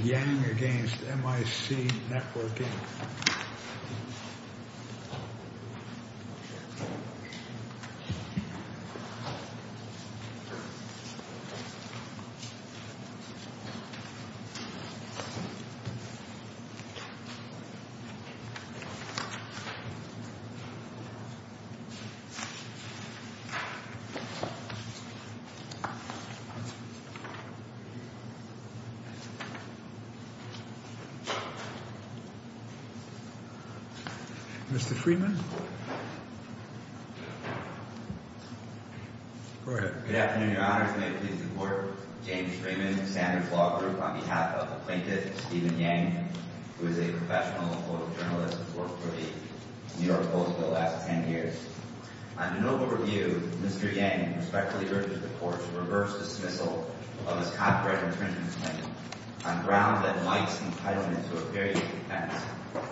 Yang v. Mic Network Inc. Good afternoon, Your Honors. May it please the Court, James Freeman, Sanders Law Group, on behalf of the plaintiff, Steven Yang, who is a professional photojournalist who's worked for the New York Post for the last 10 years. On de novo review, Mr. Yang respectfully urges the Court to reverse dismissal of his copyright infringement claim on grounds that Mike's entitlement to a period of defense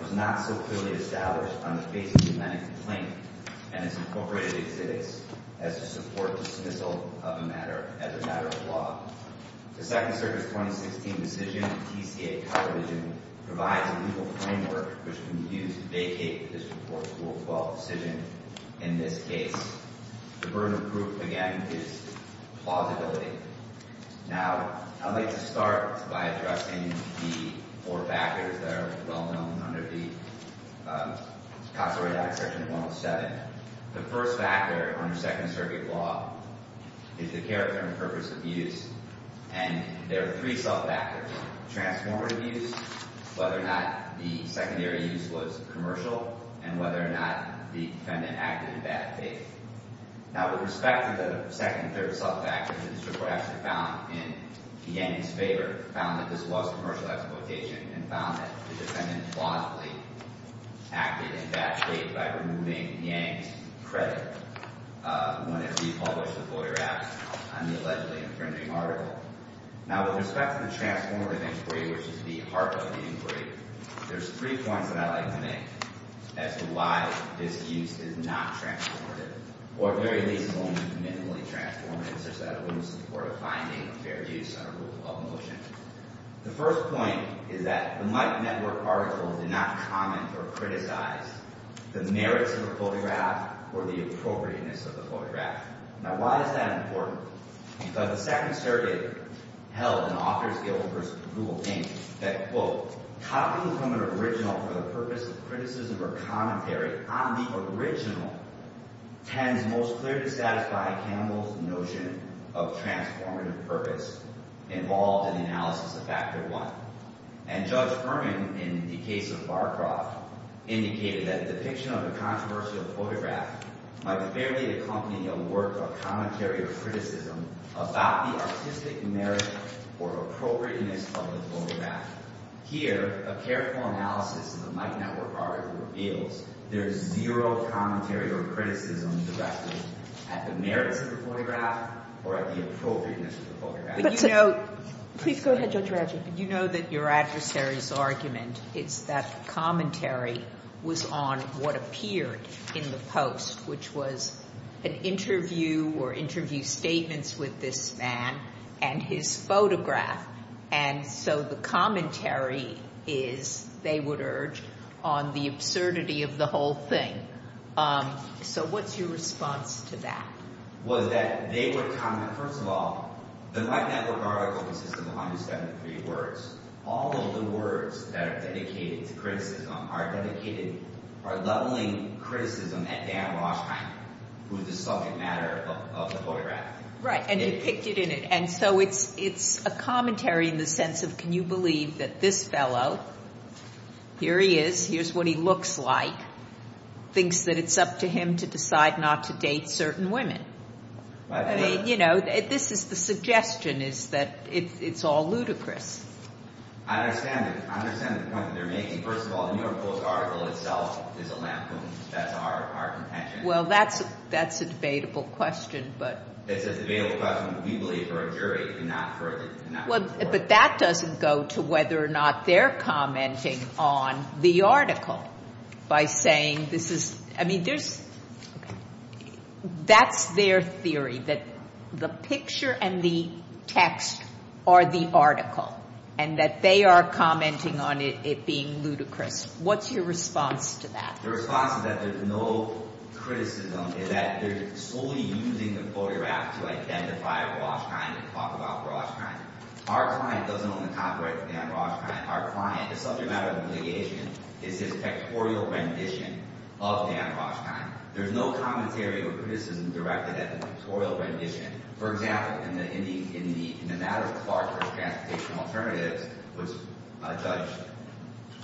was not so clearly established on the basis of that complaint and its incorporated exhibits as to support dismissal as a matter of law. The Second Circuit's 2016 decision, TCA, provides a legal framework which can be used to vacate the District Court's Rule 12 decision in this case. The burden of proof, again, is plausibility. Now, I'd like to start by addressing the four factors that are well known under the Constitutional Act, Section 107. The first factor under Second Circuit law is the character and purpose of use, and there are three sub-factors, transformative use, whether or not the secondary use was commercial, and whether or not the defendant acted in bad faith. Now, with respect to the second and third sub-factors, the District Court actually found in Yang's favor, found that this was commercial exploitation and found that the defendant plausibly acted in bad faith by removing Yang's credit when it republished the Voter Act on the allegedly infringing article. Now, with respect to the transformative inquiry, which is the heart of the inquiry, there's three points that I'd like to make as to why this use is not transformative, or at the very least is only minimally transformative, such that it wouldn't support a finding of fair use under Rule 12 The first point is that the Mike Network article did not comment or criticize the merits of the photograph or the appropriateness of the photograph. Now, why is that important? Because the Second Circuit held in Authors Guild v. Google Inc. that, quote, copying from an original for the purpose of criticism or commentary on the original tends most clearly to satisfy Campbell's notion of transformative purpose involved in analysis of Factor I. And Judge Furman, in the case of Barcroft, indicated that a depiction of a controversial photograph might fairly accompany a work of commentary or criticism about the artistic merit or appropriateness of the photograph. Here, a careful analysis of the Mike Network article reveals there's zero commentary or criticism directed at the merits of the photograph or at the appropriateness of the photograph. But you know... Please go ahead, Judge Radjou. You know that your adversary's argument is that commentary was on what appeared in the post, which was an interview or interview statements with this man and his photograph. And so the commentary is, they would urge, on the absurdity of the whole thing. So what's your response to that? Well, that they would comment, first of all, the Mike Network article consists of 173 words. All of the words that are dedicated to criticism are dedicated, are leveling criticism at Dan Rauschheim, who is the subject matter of the photograph. Right. And he picked it in it. And so it's a commentary in the sense of, can you believe that this fellow, here he is, here's what he looks like, thinks that it's up to him to decide not to date certain women? I mean, you know, this is the suggestion is that it's all ludicrous. I understand the point that they're making. First of all, the New York Post article itself is a lampoon. That's our contention. Well, that's a debatable question, but... But that doesn't go to whether or not they're commenting on the article by saying, this is, I mean, there's, that's their theory, that the picture and the text are the article and that they are commenting on it being ludicrous. What's your response to that? The response is that there's no criticism, that they're solely using the photograph to identify Rauschheim and talk about Rauschheim. Our client doesn't own the copyright to Dan Rauschheim. Our client, the subject matter of the litigation, is his factorial rendition of Dan Rauschheim. There's no commentary or criticism directed at the factorial rendition. For example, in the, in the, in the matter of Clarkhurst Transportation Alternatives, which a judge,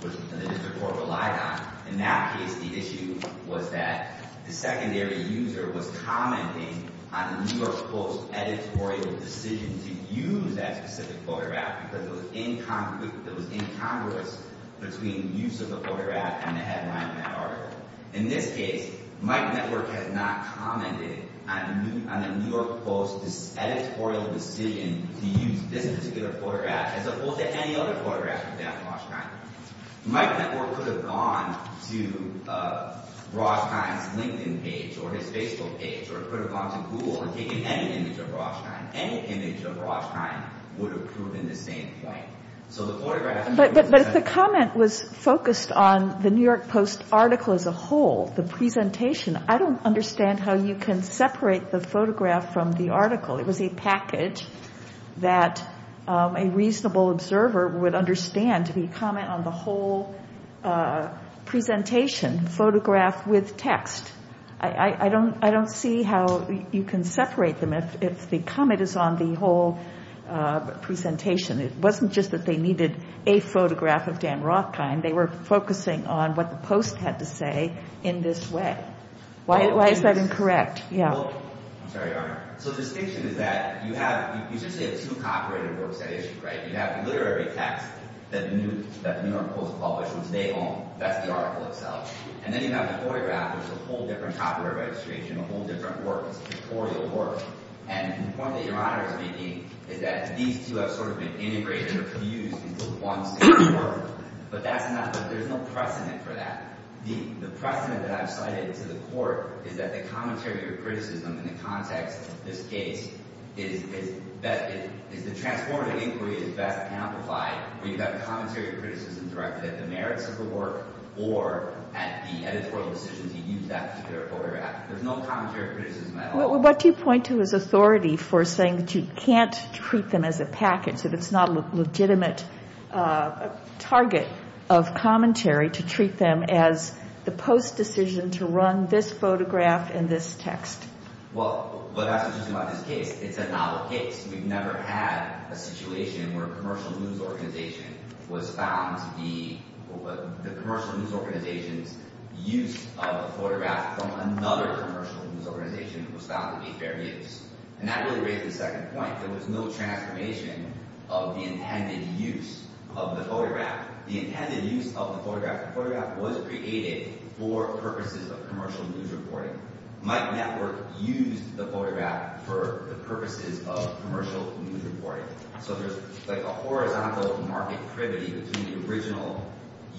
which the district court relied on, in that case the issue was that the secondary user was commenting on the New York Post editorial decision to use that specific photograph because it was incongruous between use of the photograph and the headline in that article. In this case, Mike Network has not commented on the New York Post editorial decision to hold any other photograph of Dan Rauschheim. Mike Network could have gone to Rauschheim's LinkedIn page or his Facebook page or could have gone to Google and taken any image of Rauschheim. Any image of Rauschheim would have proven the same point. So the photograph But, but, but if the comment was focused on the New York Post article as a whole, the presentation, I don't understand how you can separate the photograph from the article. It was a package that a reasonable observer would understand to be comment on the whole presentation, photograph with text. I don't, I don't see how you can separate them if the comment is on the whole presentation. It wasn't just that they needed a photograph of Dan Rauschheim. They were focusing on what the Post had to say in this way. Why, why is that incorrect? Yeah. Well, I'm sorry, Your Honor. So the distinction is that you have, you seriously have two copyrighted works at issue, right? You have the literary text that the New York Post published, which they own, that's the article itself. And then you have the photograph, which is a whole different copyright registration, a whole different work, it's editorial work. And the point that Your Honor is making is that these two have sort of been integrated or fused into one single work. But that's not, there's no precedent for that. The precedent that I've cited to the Court is that the commentary or criticism in the context of this case is, is that it, is the transformative inquiry is best amplified when you've got commentary or criticism directed at the merits of the work or at the editorial decisions you use that particular photograph. There's no commentary or criticism at all. Well, what do you point to as authority for saying that you can't treat them as a package if it's not a legitimate target of commentary to treat them as the Post's decision to run this photograph and this text? Well, what's interesting about this case, it's a novel case. We've never had a situation where a commercial news organization was found to be, the commercial news organization's use of a photograph from another commercial news organization was found to be fair use. And that really raises the second point. There was no transformation of the intended use of the photograph. The intended use of the photograph, the photograph was created for purposes of commercial news reporting. Mike Network used the photograph for the purposes of commercial news reporting. So there's like a horizontal market privity between the original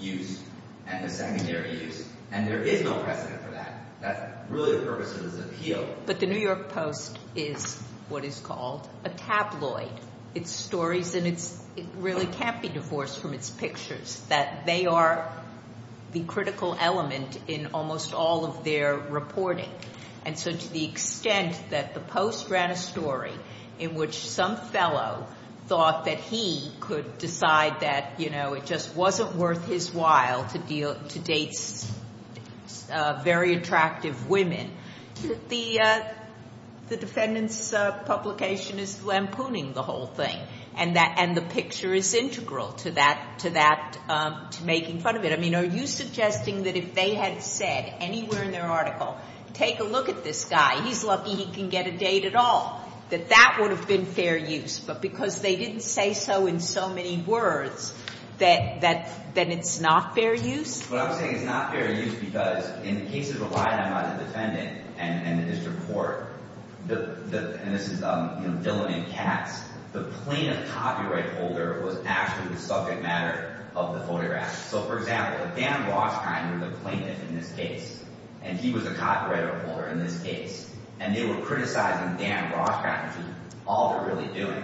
use and the secondary use. And there is no precedent for that. That's really the purpose of this appeal. But the New York Post is what is called a tabloid. It's stories and it really can't be divorced from its pictures, that they are the critical element in almost all of their reporting. And so to the extent that the Post ran a story in which some fellow thought that he could decide that, you know, it just wasn't worth his while to date very attractive women, the defendant's publication is lampooning the whole thing. And the picture is integral to that, to making fun of it. I mean, are you suggesting that if they had said anywhere in their article, take a look at this guy, he's lucky he can get a date at all, that that would have been fair use. But because they didn't say so in so many words, that it's not fair use? What I'm saying is it's not fair use because in the cases of Ryan, I'm not a defendant, and in his report, and this is, you know, Dylan and Katz, the plaintiff copyright holder was actually the subject matter of the photographs. So for example, if Dan Rothschild were the plaintiff in this case, and he was a copyright holder in this case, and they were criticizing Dan Rothschild for all they're really doing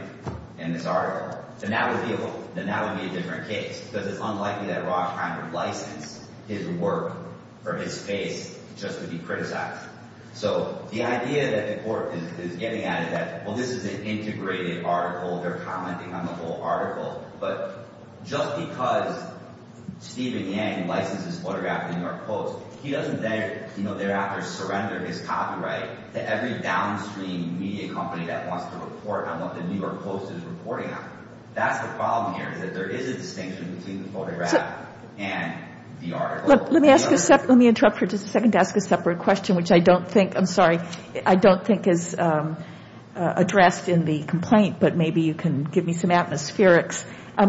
in this article, then that would be a different case because it's unlikely that Rothschild would license his work or his face just to be criticized. So the idea that the court is getting at is that, well, this is an integrated article, they're commenting on the whole article, but just because Stephen Yang licenses photographs of the New York Post, he doesn't, you know, thereafter surrender his copyright to every downstream media company that wants to report on what the New York Post is reporting on. That's the problem here is that there is a distinction between the photograph and the article. Let me ask a separate, let me interrupt for just a second to ask a separate question, which I don't think, I'm sorry, I don't think is addressed in the complaint, but maybe you can give me some atmospherics.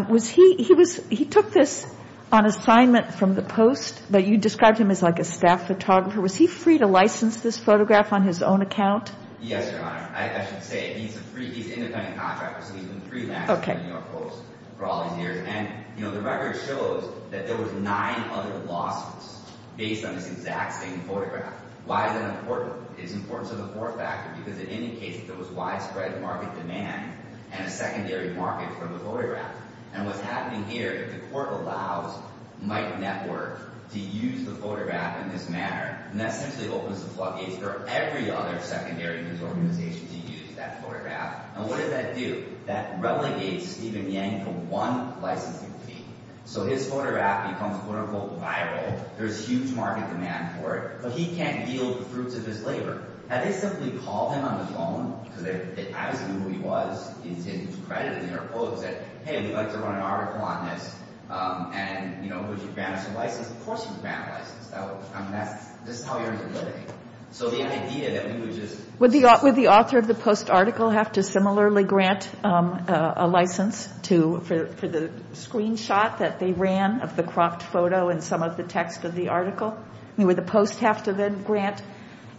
Was he, he was, he took this on assignment from the Post, but you described him as like a staff photographer. Was he free to license this photograph on his own account? Yes, Your Honor. I should say he's a free, he's an independent contractor, so he's been freelancing the New York Post for all these years. And, you know, the record shows that there was nine other lawsuits based on this exact same photograph. Why is that important? It's important to the fourth factor because it indicates that there was widespread market demand and a secondary market for the photograph. And what's happening here, if the court allows Mike Network to use the photograph in this manner, then that simply opens the floodgates for every other secondary news organization to use that photograph. And what does that do? That relegates Stephen Yang to one licensing fee. So his photograph becomes, quote-unquote, viral. There's huge market demand for it, but he can't deal with the fruits of his labor. Now, they simply called him on the phone, because they obviously knew who he was, he was credited in the New York Post, and said, hey, we'd like to run an article on this. And, you know, would you grant us a license? Of course he would grant a license. I mean, that's just how he earned a living. So the idea that we would just... Would the author of the Post article have to similarly grant a license for the screenshot that they ran of the cropped photo and some of the text of the article? I mean, would the Post have to then grant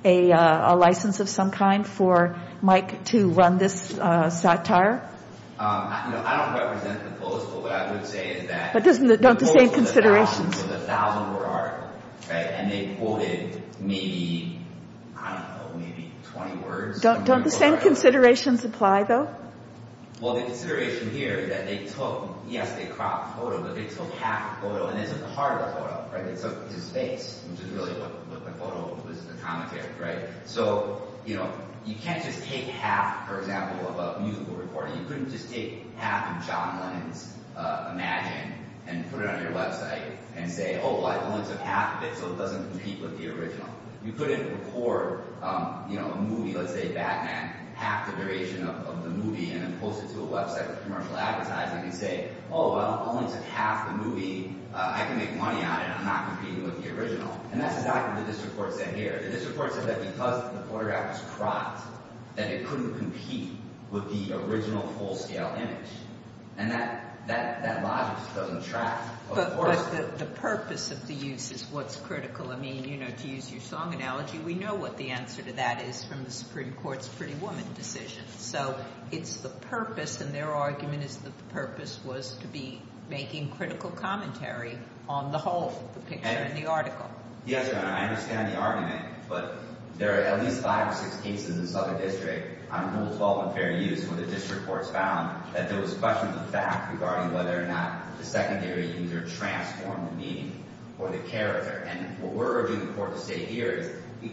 a license of some kind for Mike to run this satire? I don't represent the Post, but what I would say is that... But doesn't it, don't the same considerations... And they quoted maybe, I don't know, maybe 20 words? Don't the same considerations apply, though? Well, the consideration here is that they took, yes, they cropped the photo, but they took half the photo, and this is part of the photo, right? They took his face, which is really what the photo was the commentary, right? So, you know, you can't just take half, for example, of a musical recording. You couldn't just take half of John Lennon's Imagine and put it on your website and say, oh, well, I only took half of it, so it doesn't compete with the original. You couldn't record, you know, a movie, let's say Batman, half the duration of the movie, and then post it to a website with commercial advertising and say, oh, well, I only took half the movie, I can make money on it, I'm not competing with the original. And that's exactly what this report said here. And this report said that because the photograph was cropped, that it couldn't compete with the original full-scale image. And that logic just doesn't track. But the purpose of the use is what's critical. I mean, you know, to use your song analogy, we know what the answer to that is from the Supreme Court's Pretty Woman decision. So it's the purpose, and their argument is that the purpose was to be making critical commentary on the whole, the picture and the article. Yes, Your Honor, I understand the argument, but there are at least five or six cases in which the district courts found that there was a question of fact regarding whether or not the secondary user transformed the meaning or the character. And what we're urging the court to say here is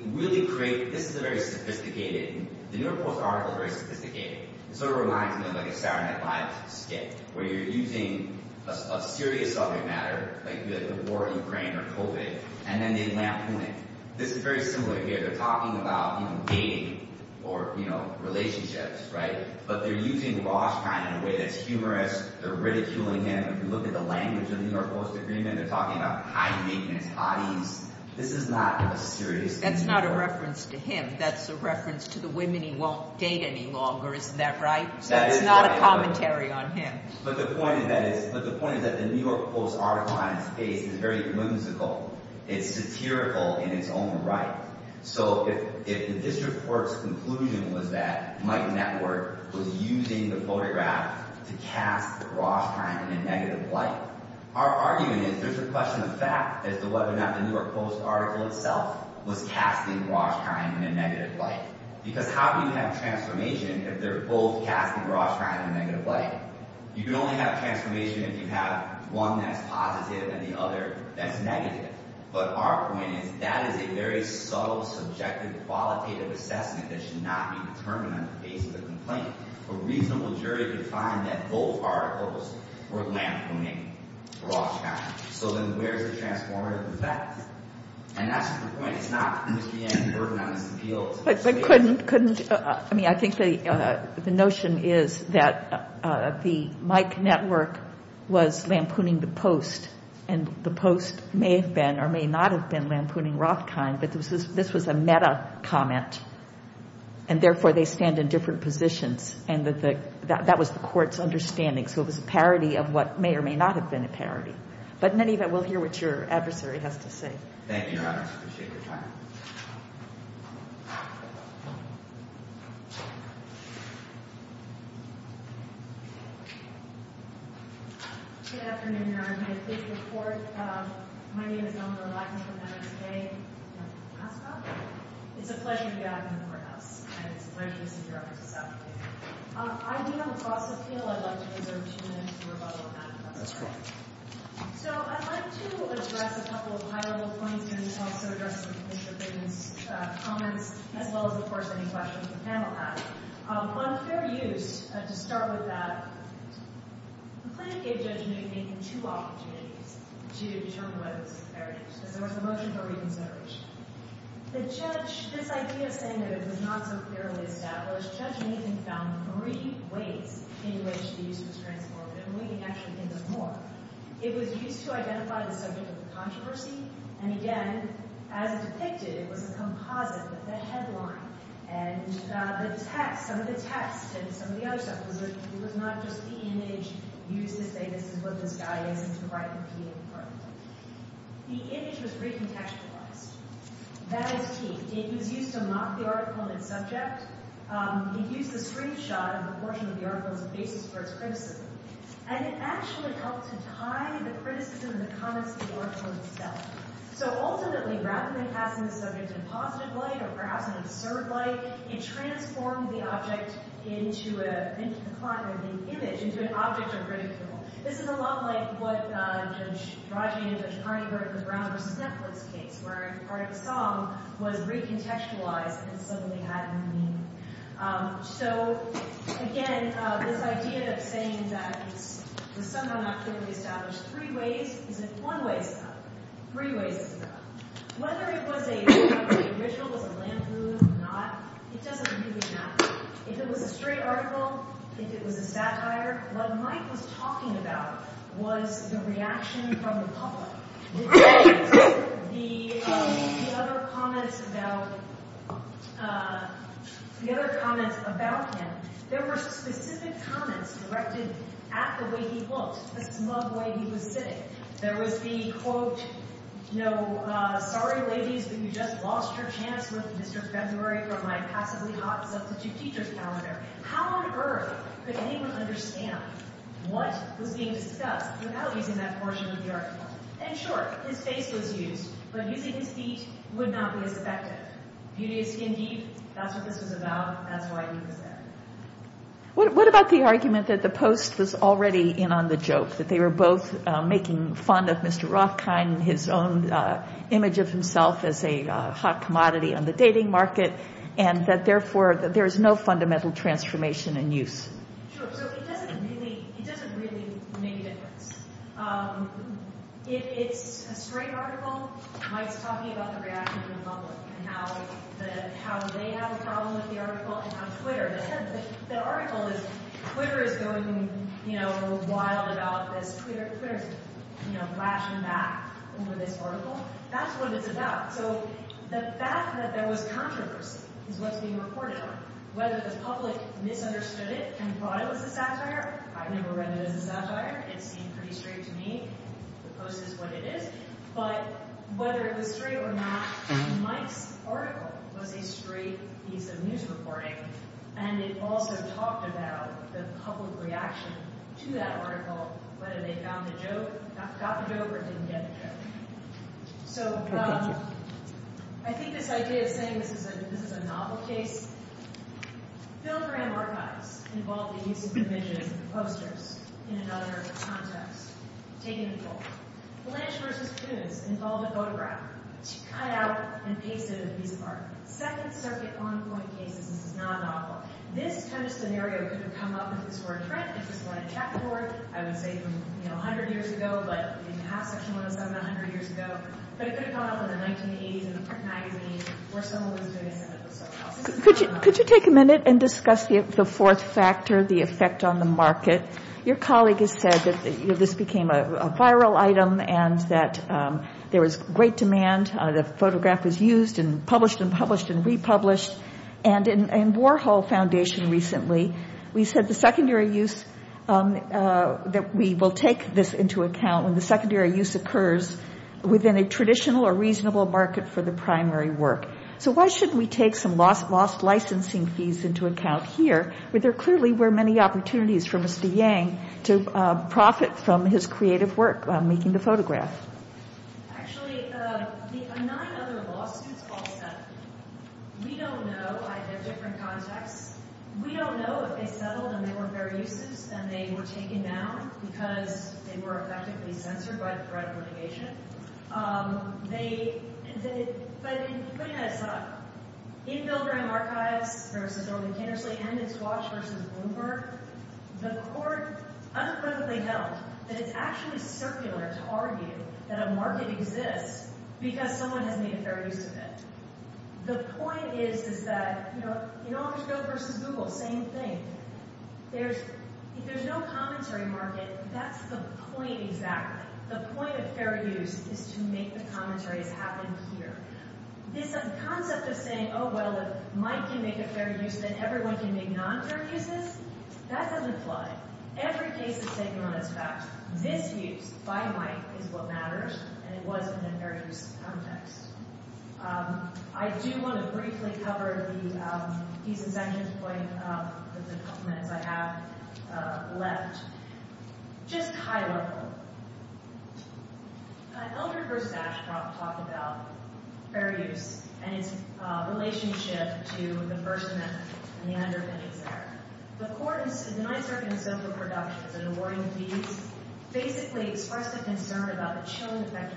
really create, this is a very sophisticated, the New York Post article is very sophisticated. It sort of reminds me of like a Saturday Night Live skit where you're using a serious subject matter, like the war in Ukraine or COVID, and then they lampoon it. This is very similar here. They're talking about, you know, dating or, you know, relationships, right? But they're using Roshkind in a way that's humorous. They're ridiculing him. If you look at the language of the New York Post agreement, they're talking about high maintenance hotties. This is not a serious case. That's not a reference to him. That's a reference to the women he won't date any longer. Isn't that right? That's not a commentary on him. But the point is that the New York Post article on his case is very whimsical. It's satirical in its own right. So if the district court's conclusion was that Mike Network was using the photograph to cast Roshkind in a negative light, our argument is there's a question of fact as to whether or not the New York Post article itself was casting Roshkind in a negative light. Because how do you have transformation if they're both casting Roshkind in a negative light? You can only have transformation if you have one that's positive and the other that's negative. But our point is that is a very subtle, subjective, qualitative assessment that should not be determined on the basis of complaint. A reasonable jury could find that both articles were lampooning Roshkind. So then where's the transformative effect? And that's the point. It's not to put any burden on his appeals. But couldn't, I mean, I think the notion is that the Mike Network was lampooning the Post and the Post may have been or may not have been lampooning Roshkind. But this was a meta comment. And therefore, they stand in different positions. And that was the court's understanding. So it was a parody of what may or may not have been a parody. But in any event, we'll hear what your adversary has to say. Thank you, Your Honor. I appreciate your time. Good afternoon, Your Honor. My name is Eleanor Lackney from MSJ. It's a pleasure to be out in the courthouse. And it's a pleasure to be sitting here after this application. I think on the cost of appeal, I'd like to reserve two minutes for rebuttal on that. That's fine. So I'd like to address a couple of high-level points here and also address some of Commissioner Fitton's comments, as well as, of course, any questions the panel has. On fair use, to start with that, the plaintiff gave Judge Nathan two opportunities to determine whether this was fair use. There was a motion for reconsideration. The judge, this idea of saying that it was not so fairly established, Judge Nathan found three ways in which the use was transformative. And we can actually get into more. It was used to identify the subject of the controversy. And again, as depicted, it was a composite with the headline and the text, some of the text, and some of the other stuff. It was not just the image used to say this is what this guy is and to write the appeal in front of it. The image was recontextualized. That is key. It was used to mock the article and its subject. It used the screenshot of the portion of the article as a basis for its criticism. And it actually helped to tie the criticism and the comments to the article itself. So ultimately, rather than passing the subject in positive light or perhaps in absurd light, it transformed the object into an object of ridicule. This is a lot like what Judge Rodney and Judge Carney wrote in the Brown v. Netflix case, where part of the song was recontextualized and suddenly had no meaning. So again, this idea of saying that it was somehow not clearly established three ways is in one way or another. Three ways is another. Whether it was a ritual, was a lampoon or not, it doesn't really matter. If it was a straight article, if it was a satire, what Mike was talking about was the reaction from the public. The other comments about him, there were specific comments directed at the way he looked, the smug way he was sitting. There was the, quote, sorry ladies, but you just lost your chance with Mr. February for my passively hot substitute teacher's calendar. How on earth could anyone understand what was being discussed without using that portion of the article? And sure, his face was used, but using his feet would not be as effective. Beauty is skin deep, that's what this was about, that's why he was there. What about the argument that the Post was already in on the joke, that they were both making fun of Mr. Rothkind and his own image of himself as a hot commodity on the dating market, and that therefore there is no fundamental transformation in use? Sure, so it doesn't really make a difference. If it's a straight article, Mike's talking about the reaction from the public, and how they have a problem with the article, and how Twitter, they said that the article is, Twitter is going, you know, wild about this, Twitter's, you know, flashing back over this article, that's what it's about. So the fact that there was controversy is what's being reported on. Whether the public misunderstood it and thought it was a satire, I've never read it as a satire, it seemed pretty straight to me, the Post is what it is, but whether it was straight or not, Mike's article was a straight piece of news reporting, and it also talked about the public reaction to that article, whether they found the joke, got the joke, or didn't get the joke. So, I think this idea of saying this is a novel case, Bill Graham archives involved the use of revisionist posters in another context. Taken in full. Blanche v. Coons involved a photograph cut out and pasted in a piece of art. Second Circuit on-point cases, this is not a novel. This kind of scenario could have come up if this were a trend, if this were a checkboard, I would say a hundred years ago, but in half section 107, a hundred years ago, but it could have come up in the 1980s in the print magazine where someone was doing this. Could you take a minute and discuss the fourth factor, the effect on the market? Your colleague has said that this became a viral item and that there was great demand, the photograph was used and published and published and republished, and in Warhol Foundation recently, we said the secondary use, that we will take this into account when the secondary use occurs within a traditional or reasonable market for the primary work. So, why shouldn't we take some lost licensing fees into account here, where there clearly were many opportunities for Mr. Yang to profit from his creative work making the photograph? Actually, the nine other lawsuits all settled. We don't know, I have different contacts. We don't know if they settled and they weren't fair uses and they were taken down because they were effectively censored by the threat of litigation. But putting that aside, in Bill Graham Archives versus Orlin Kinnersley and in Swatch versus Bloomberg, the court unapprovedly held that it's actually circular to argue that a market exists because someone has made a fair use of it. The point is that, you know, in Office Go versus Google, same thing. If there's no commentary market, that's the point exactly. The point of fair use is to make the commentaries happen here. This concept of saying, oh, well, if Mike can make a fair use, then everyone can make non-fair uses, that doesn't apply. Well, every case is taken on its facts. This use by Mike is what matters, and it was in a fair use context. I do want to briefly cover the pieces and sections of the couple minutes I have left, just high level. Eldred versus Ashcroft talked about fair use and its relationship to the First Amendment and the underpinnings there. The court in the Ninth Circuit in civil productions, in awarding the fees, basically expressed a concern about the chilling effect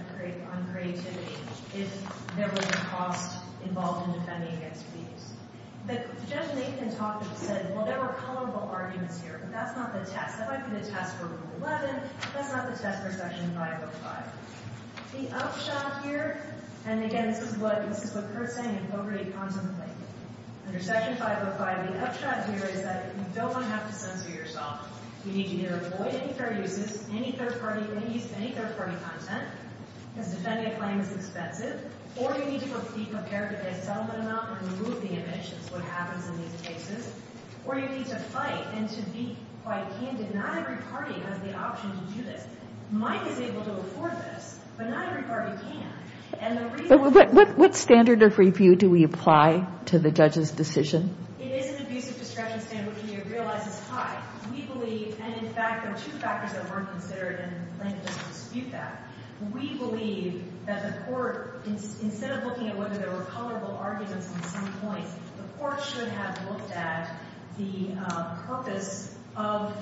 on creativity if there was a cost involved in defending against fees. Judge Nathan talked and said, well, there were comparable arguments here, but that's not the test. That might be the test for Rule 11, but that's not the test for Section 505. The upshot here, and again, this is what Kurt's saying, and don't really contemplate it. Under Section 505, the upshot here is that you don't want to have to censor yourself. You need to either avoid any fair uses, any third-party release, any third-party content, because defending a claim is expensive, or you need to be prepared to pay a settlement amount and remove the image. That's what happens in these cases. Or you need to fight and to be quite candid. Not every party has the option to do this. Mike is able to afford this, but not every party can. What standard of review do we apply to the judge's decision? It is an abusive discretion standard, which he realizes is high. We believe, and in fact, there are two factors that weren't considered, and the plaintiff doesn't dispute that. We believe that the court, instead of looking at whether there were comparable arguments at some point, the court should have looked at the purpose of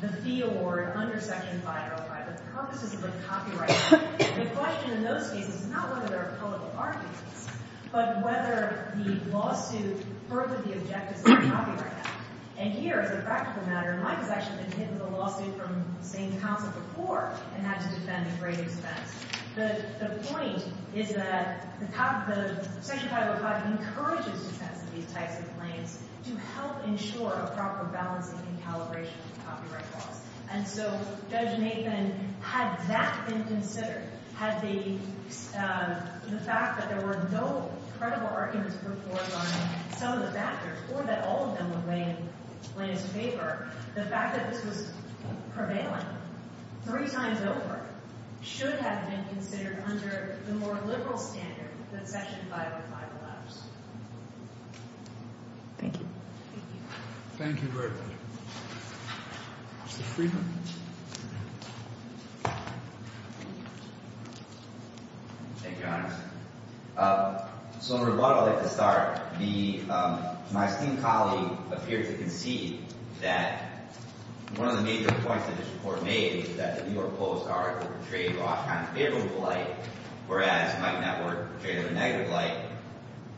the fee award under Section 505, the purposes of the copyright. The question in those cases is not whether there are comparable arguments, but whether the lawsuit furthered the objectives of the Copyright Act. And here, as a practical matter, Mike has actually been hit with a lawsuit from the same counsel before and had to defend at great expense. The point is that Section 505 encourages defense of these types of claims to help ensure a proper balancing and calibration of copyright laws. And so, Judge Nathan, had that been considered, had the fact that there were no credible arguments put forth on some of the factors, or that all of them were in plaintiff's favor, the fact that this was prevailing three times over should have been considered under the more liberal standard that Section 505 allows. Thank you. Thank you very much. Mr. Friedman. Thank you, Your Honor. So, in rebuttal, I'd like to start. My esteemed colleague appeared to concede that one of the major points that this Court made is that the New York Post article portrayed Rothschild in a favorable light, whereas Mike Network portrayed it in a negative light.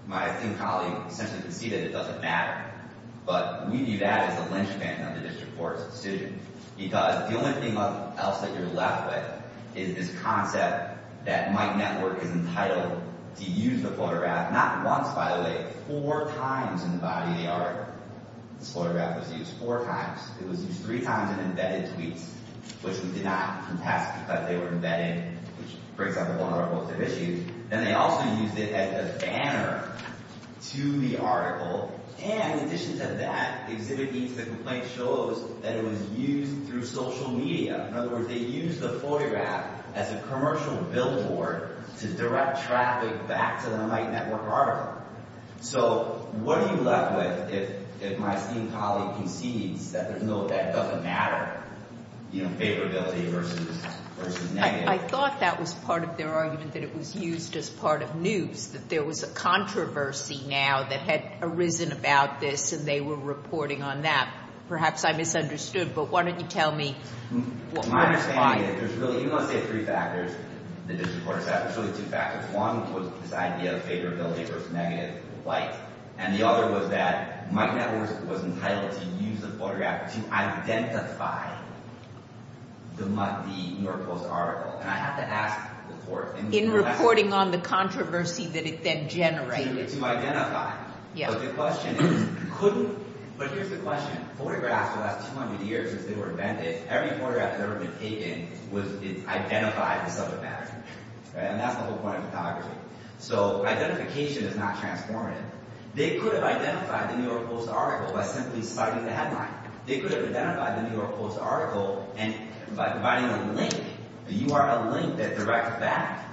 My esteemed colleague essentially conceded it doesn't matter. But we view that as a linchpin of the District Court's decision, because the only thing else that you're left with is this concept that Mike Network is entitled to use the photograph, not once, by the way, four times in the body of the article. This photograph was used four times. It was used three times in embedded tweets, which we did not contest because they were embedded, which brings up a lot of our postive issues. And they also used it as a banner to the article. And in addition to that, the exhibit leads to the complaint shows that it was used through social media. In other words, they used the photograph as a commercial billboard to direct traffic back to the Mike Network article. So what are you left with if my esteemed colleague concedes that it doesn't matter, you know, favorability versus negative? I thought that was part of their argument that it was used as part of news, that there was a controversy now that had arisen about this and they were reporting on that. Perhaps I misunderstood, but why don't you tell me why? My understanding is that there's really, even though I say three factors, the District Court accepted, there's really two factors. One was this idea of favorability versus negative light. And the other was that Mike Network was entitled to use the photograph to identify the New York Post article. And I have to ask the court. In reporting on the controversy that it then generated. To identify. But the question is, couldn't... But here's the question. Photographs the last 200 years since they were invented, every photograph that's ever been taken was identified as subject matter. And that's the whole point of photography. So identification is not transformative. They could have identified the New York Post article by simply citing the headline. They could have identified the New York Post article by providing a link, a URL link that directs back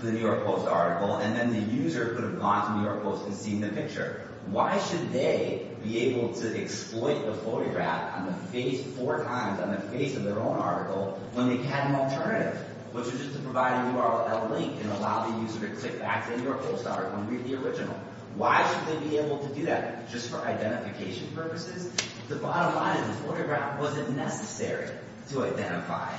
to the New York Post article and then the user could have gone to New York Post and seen the picture. Why should they be able to exploit the photograph on the face four times on the face of their own article when they had an alternative? Which is just to provide a URL link and allow the user to click back to the New York Post article and read the original. Why should they be able to do that? Just for identification purposes? The bottom line is the photograph wasn't necessary to identify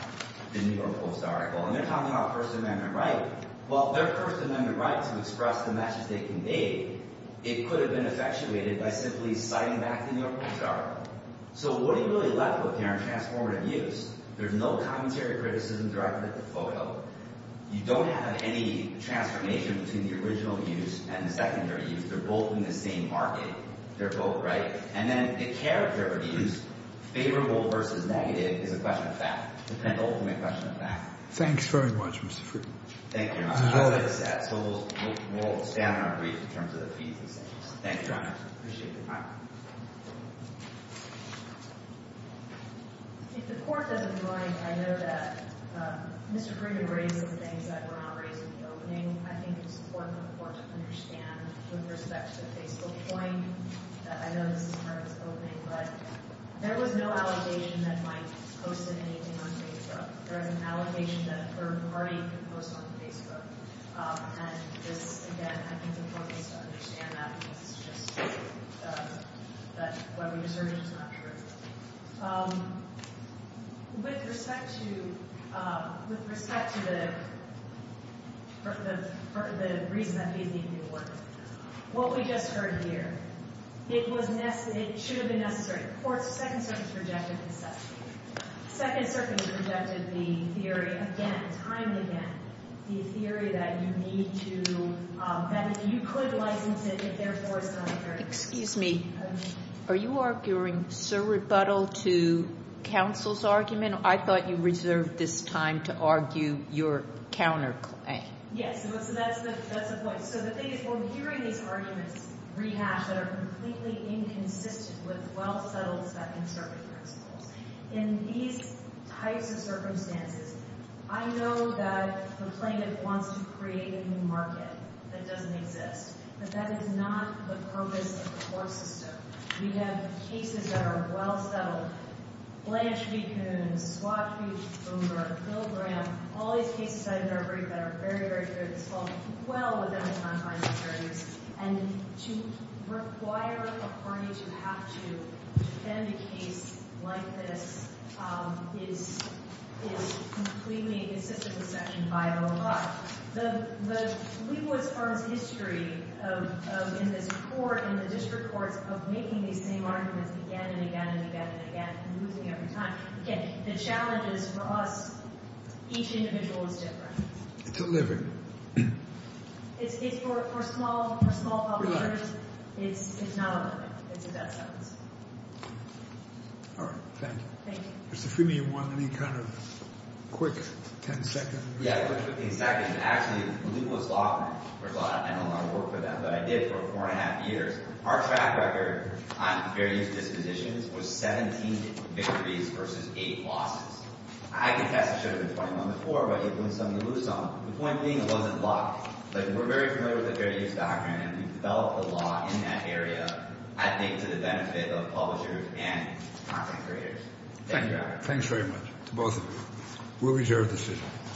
the New York Post article. And they're talking about First Amendment right. Well, their First Amendment right to express the message they conveyed, it could have been effectuated by simply citing back the New York Post article. So what are you really left with here in transformative use? There's no commentary or criticism directed at the photo. You don't have any transformation between the original use and the secondary use. They're both in the same market. They're both right. And then the character of use, favorable versus negative, is a question of fact. It's an ultimate question of fact. Thanks very much, Mr. Friedman. Thank you, Your Honor. I'll leave it at that. So we'll stand on our feet in terms of the fees and sanctions. Thank you, Your Honor. I appreciate it. All right. If the Court doesn't mind, I know that Mr. Friedman raised some things that were not raised in the opening. I think it's important for the Court to understand, with respect to the Facebook point, I know this is part of its opening, but there was no allegation that Mike posted anything on Facebook. There was an allegation that a third party could post on Facebook. And this, again, I think it's important to understand that because it's just that what we've asserted is not true. With respect to the reason that he's leaving the Court, what we just heard here, it should have been necessary. The Court's Second Circuit rejected the second. The Second Circuit rejected the theory again, time and again. The theory that you need to benefit. You could license it if therefore it's not necessary. Excuse me. Are you arguing surrebuttal to counsel's argument? I thought you reserved this time to argue your counterclaim. Yes. So that's the point. So the thing is, we're hearing these arguments rehashed that are completely inconsistent with well-settled Second Circuit principles. In these types of circumstances, I know that the plaintiff wants to create a new market that doesn't exist. But that is not the purpose of the court system. We have cases that are well-settled. Blanche v. Coons, Schwab v. Boomer, Bill Graham, all these cases that are very, very good, and to require a party to have to defend a case like this is completely inconsistent with Section 505. The legal experts' history in this Court and the district courts of making these same arguments again and again and again and again and losing every time. Again, the challenge is for us, each individual is different. It's a living. It's for small publishers. It's not a living. It's a death sentence. All right. Thank you. Thank you. Mr. Freeman, you want any kind of quick ten-second? Yeah, quick ten-second. Actually, legalist law, I don't know how to work with that, but I did for four and a half years. Our track record on fair use dispositions was 17 victories versus eight losses. I contest it should have been 21 to 4, but it was something to lose on. The point being it wasn't blocked, but we're very familiar with the fair use doctrine, and we've developed the law in that area, I think, to the benefit of publishers and content creators. Thank you, Robert. Thanks very much to both of you. We'll reserve the decision.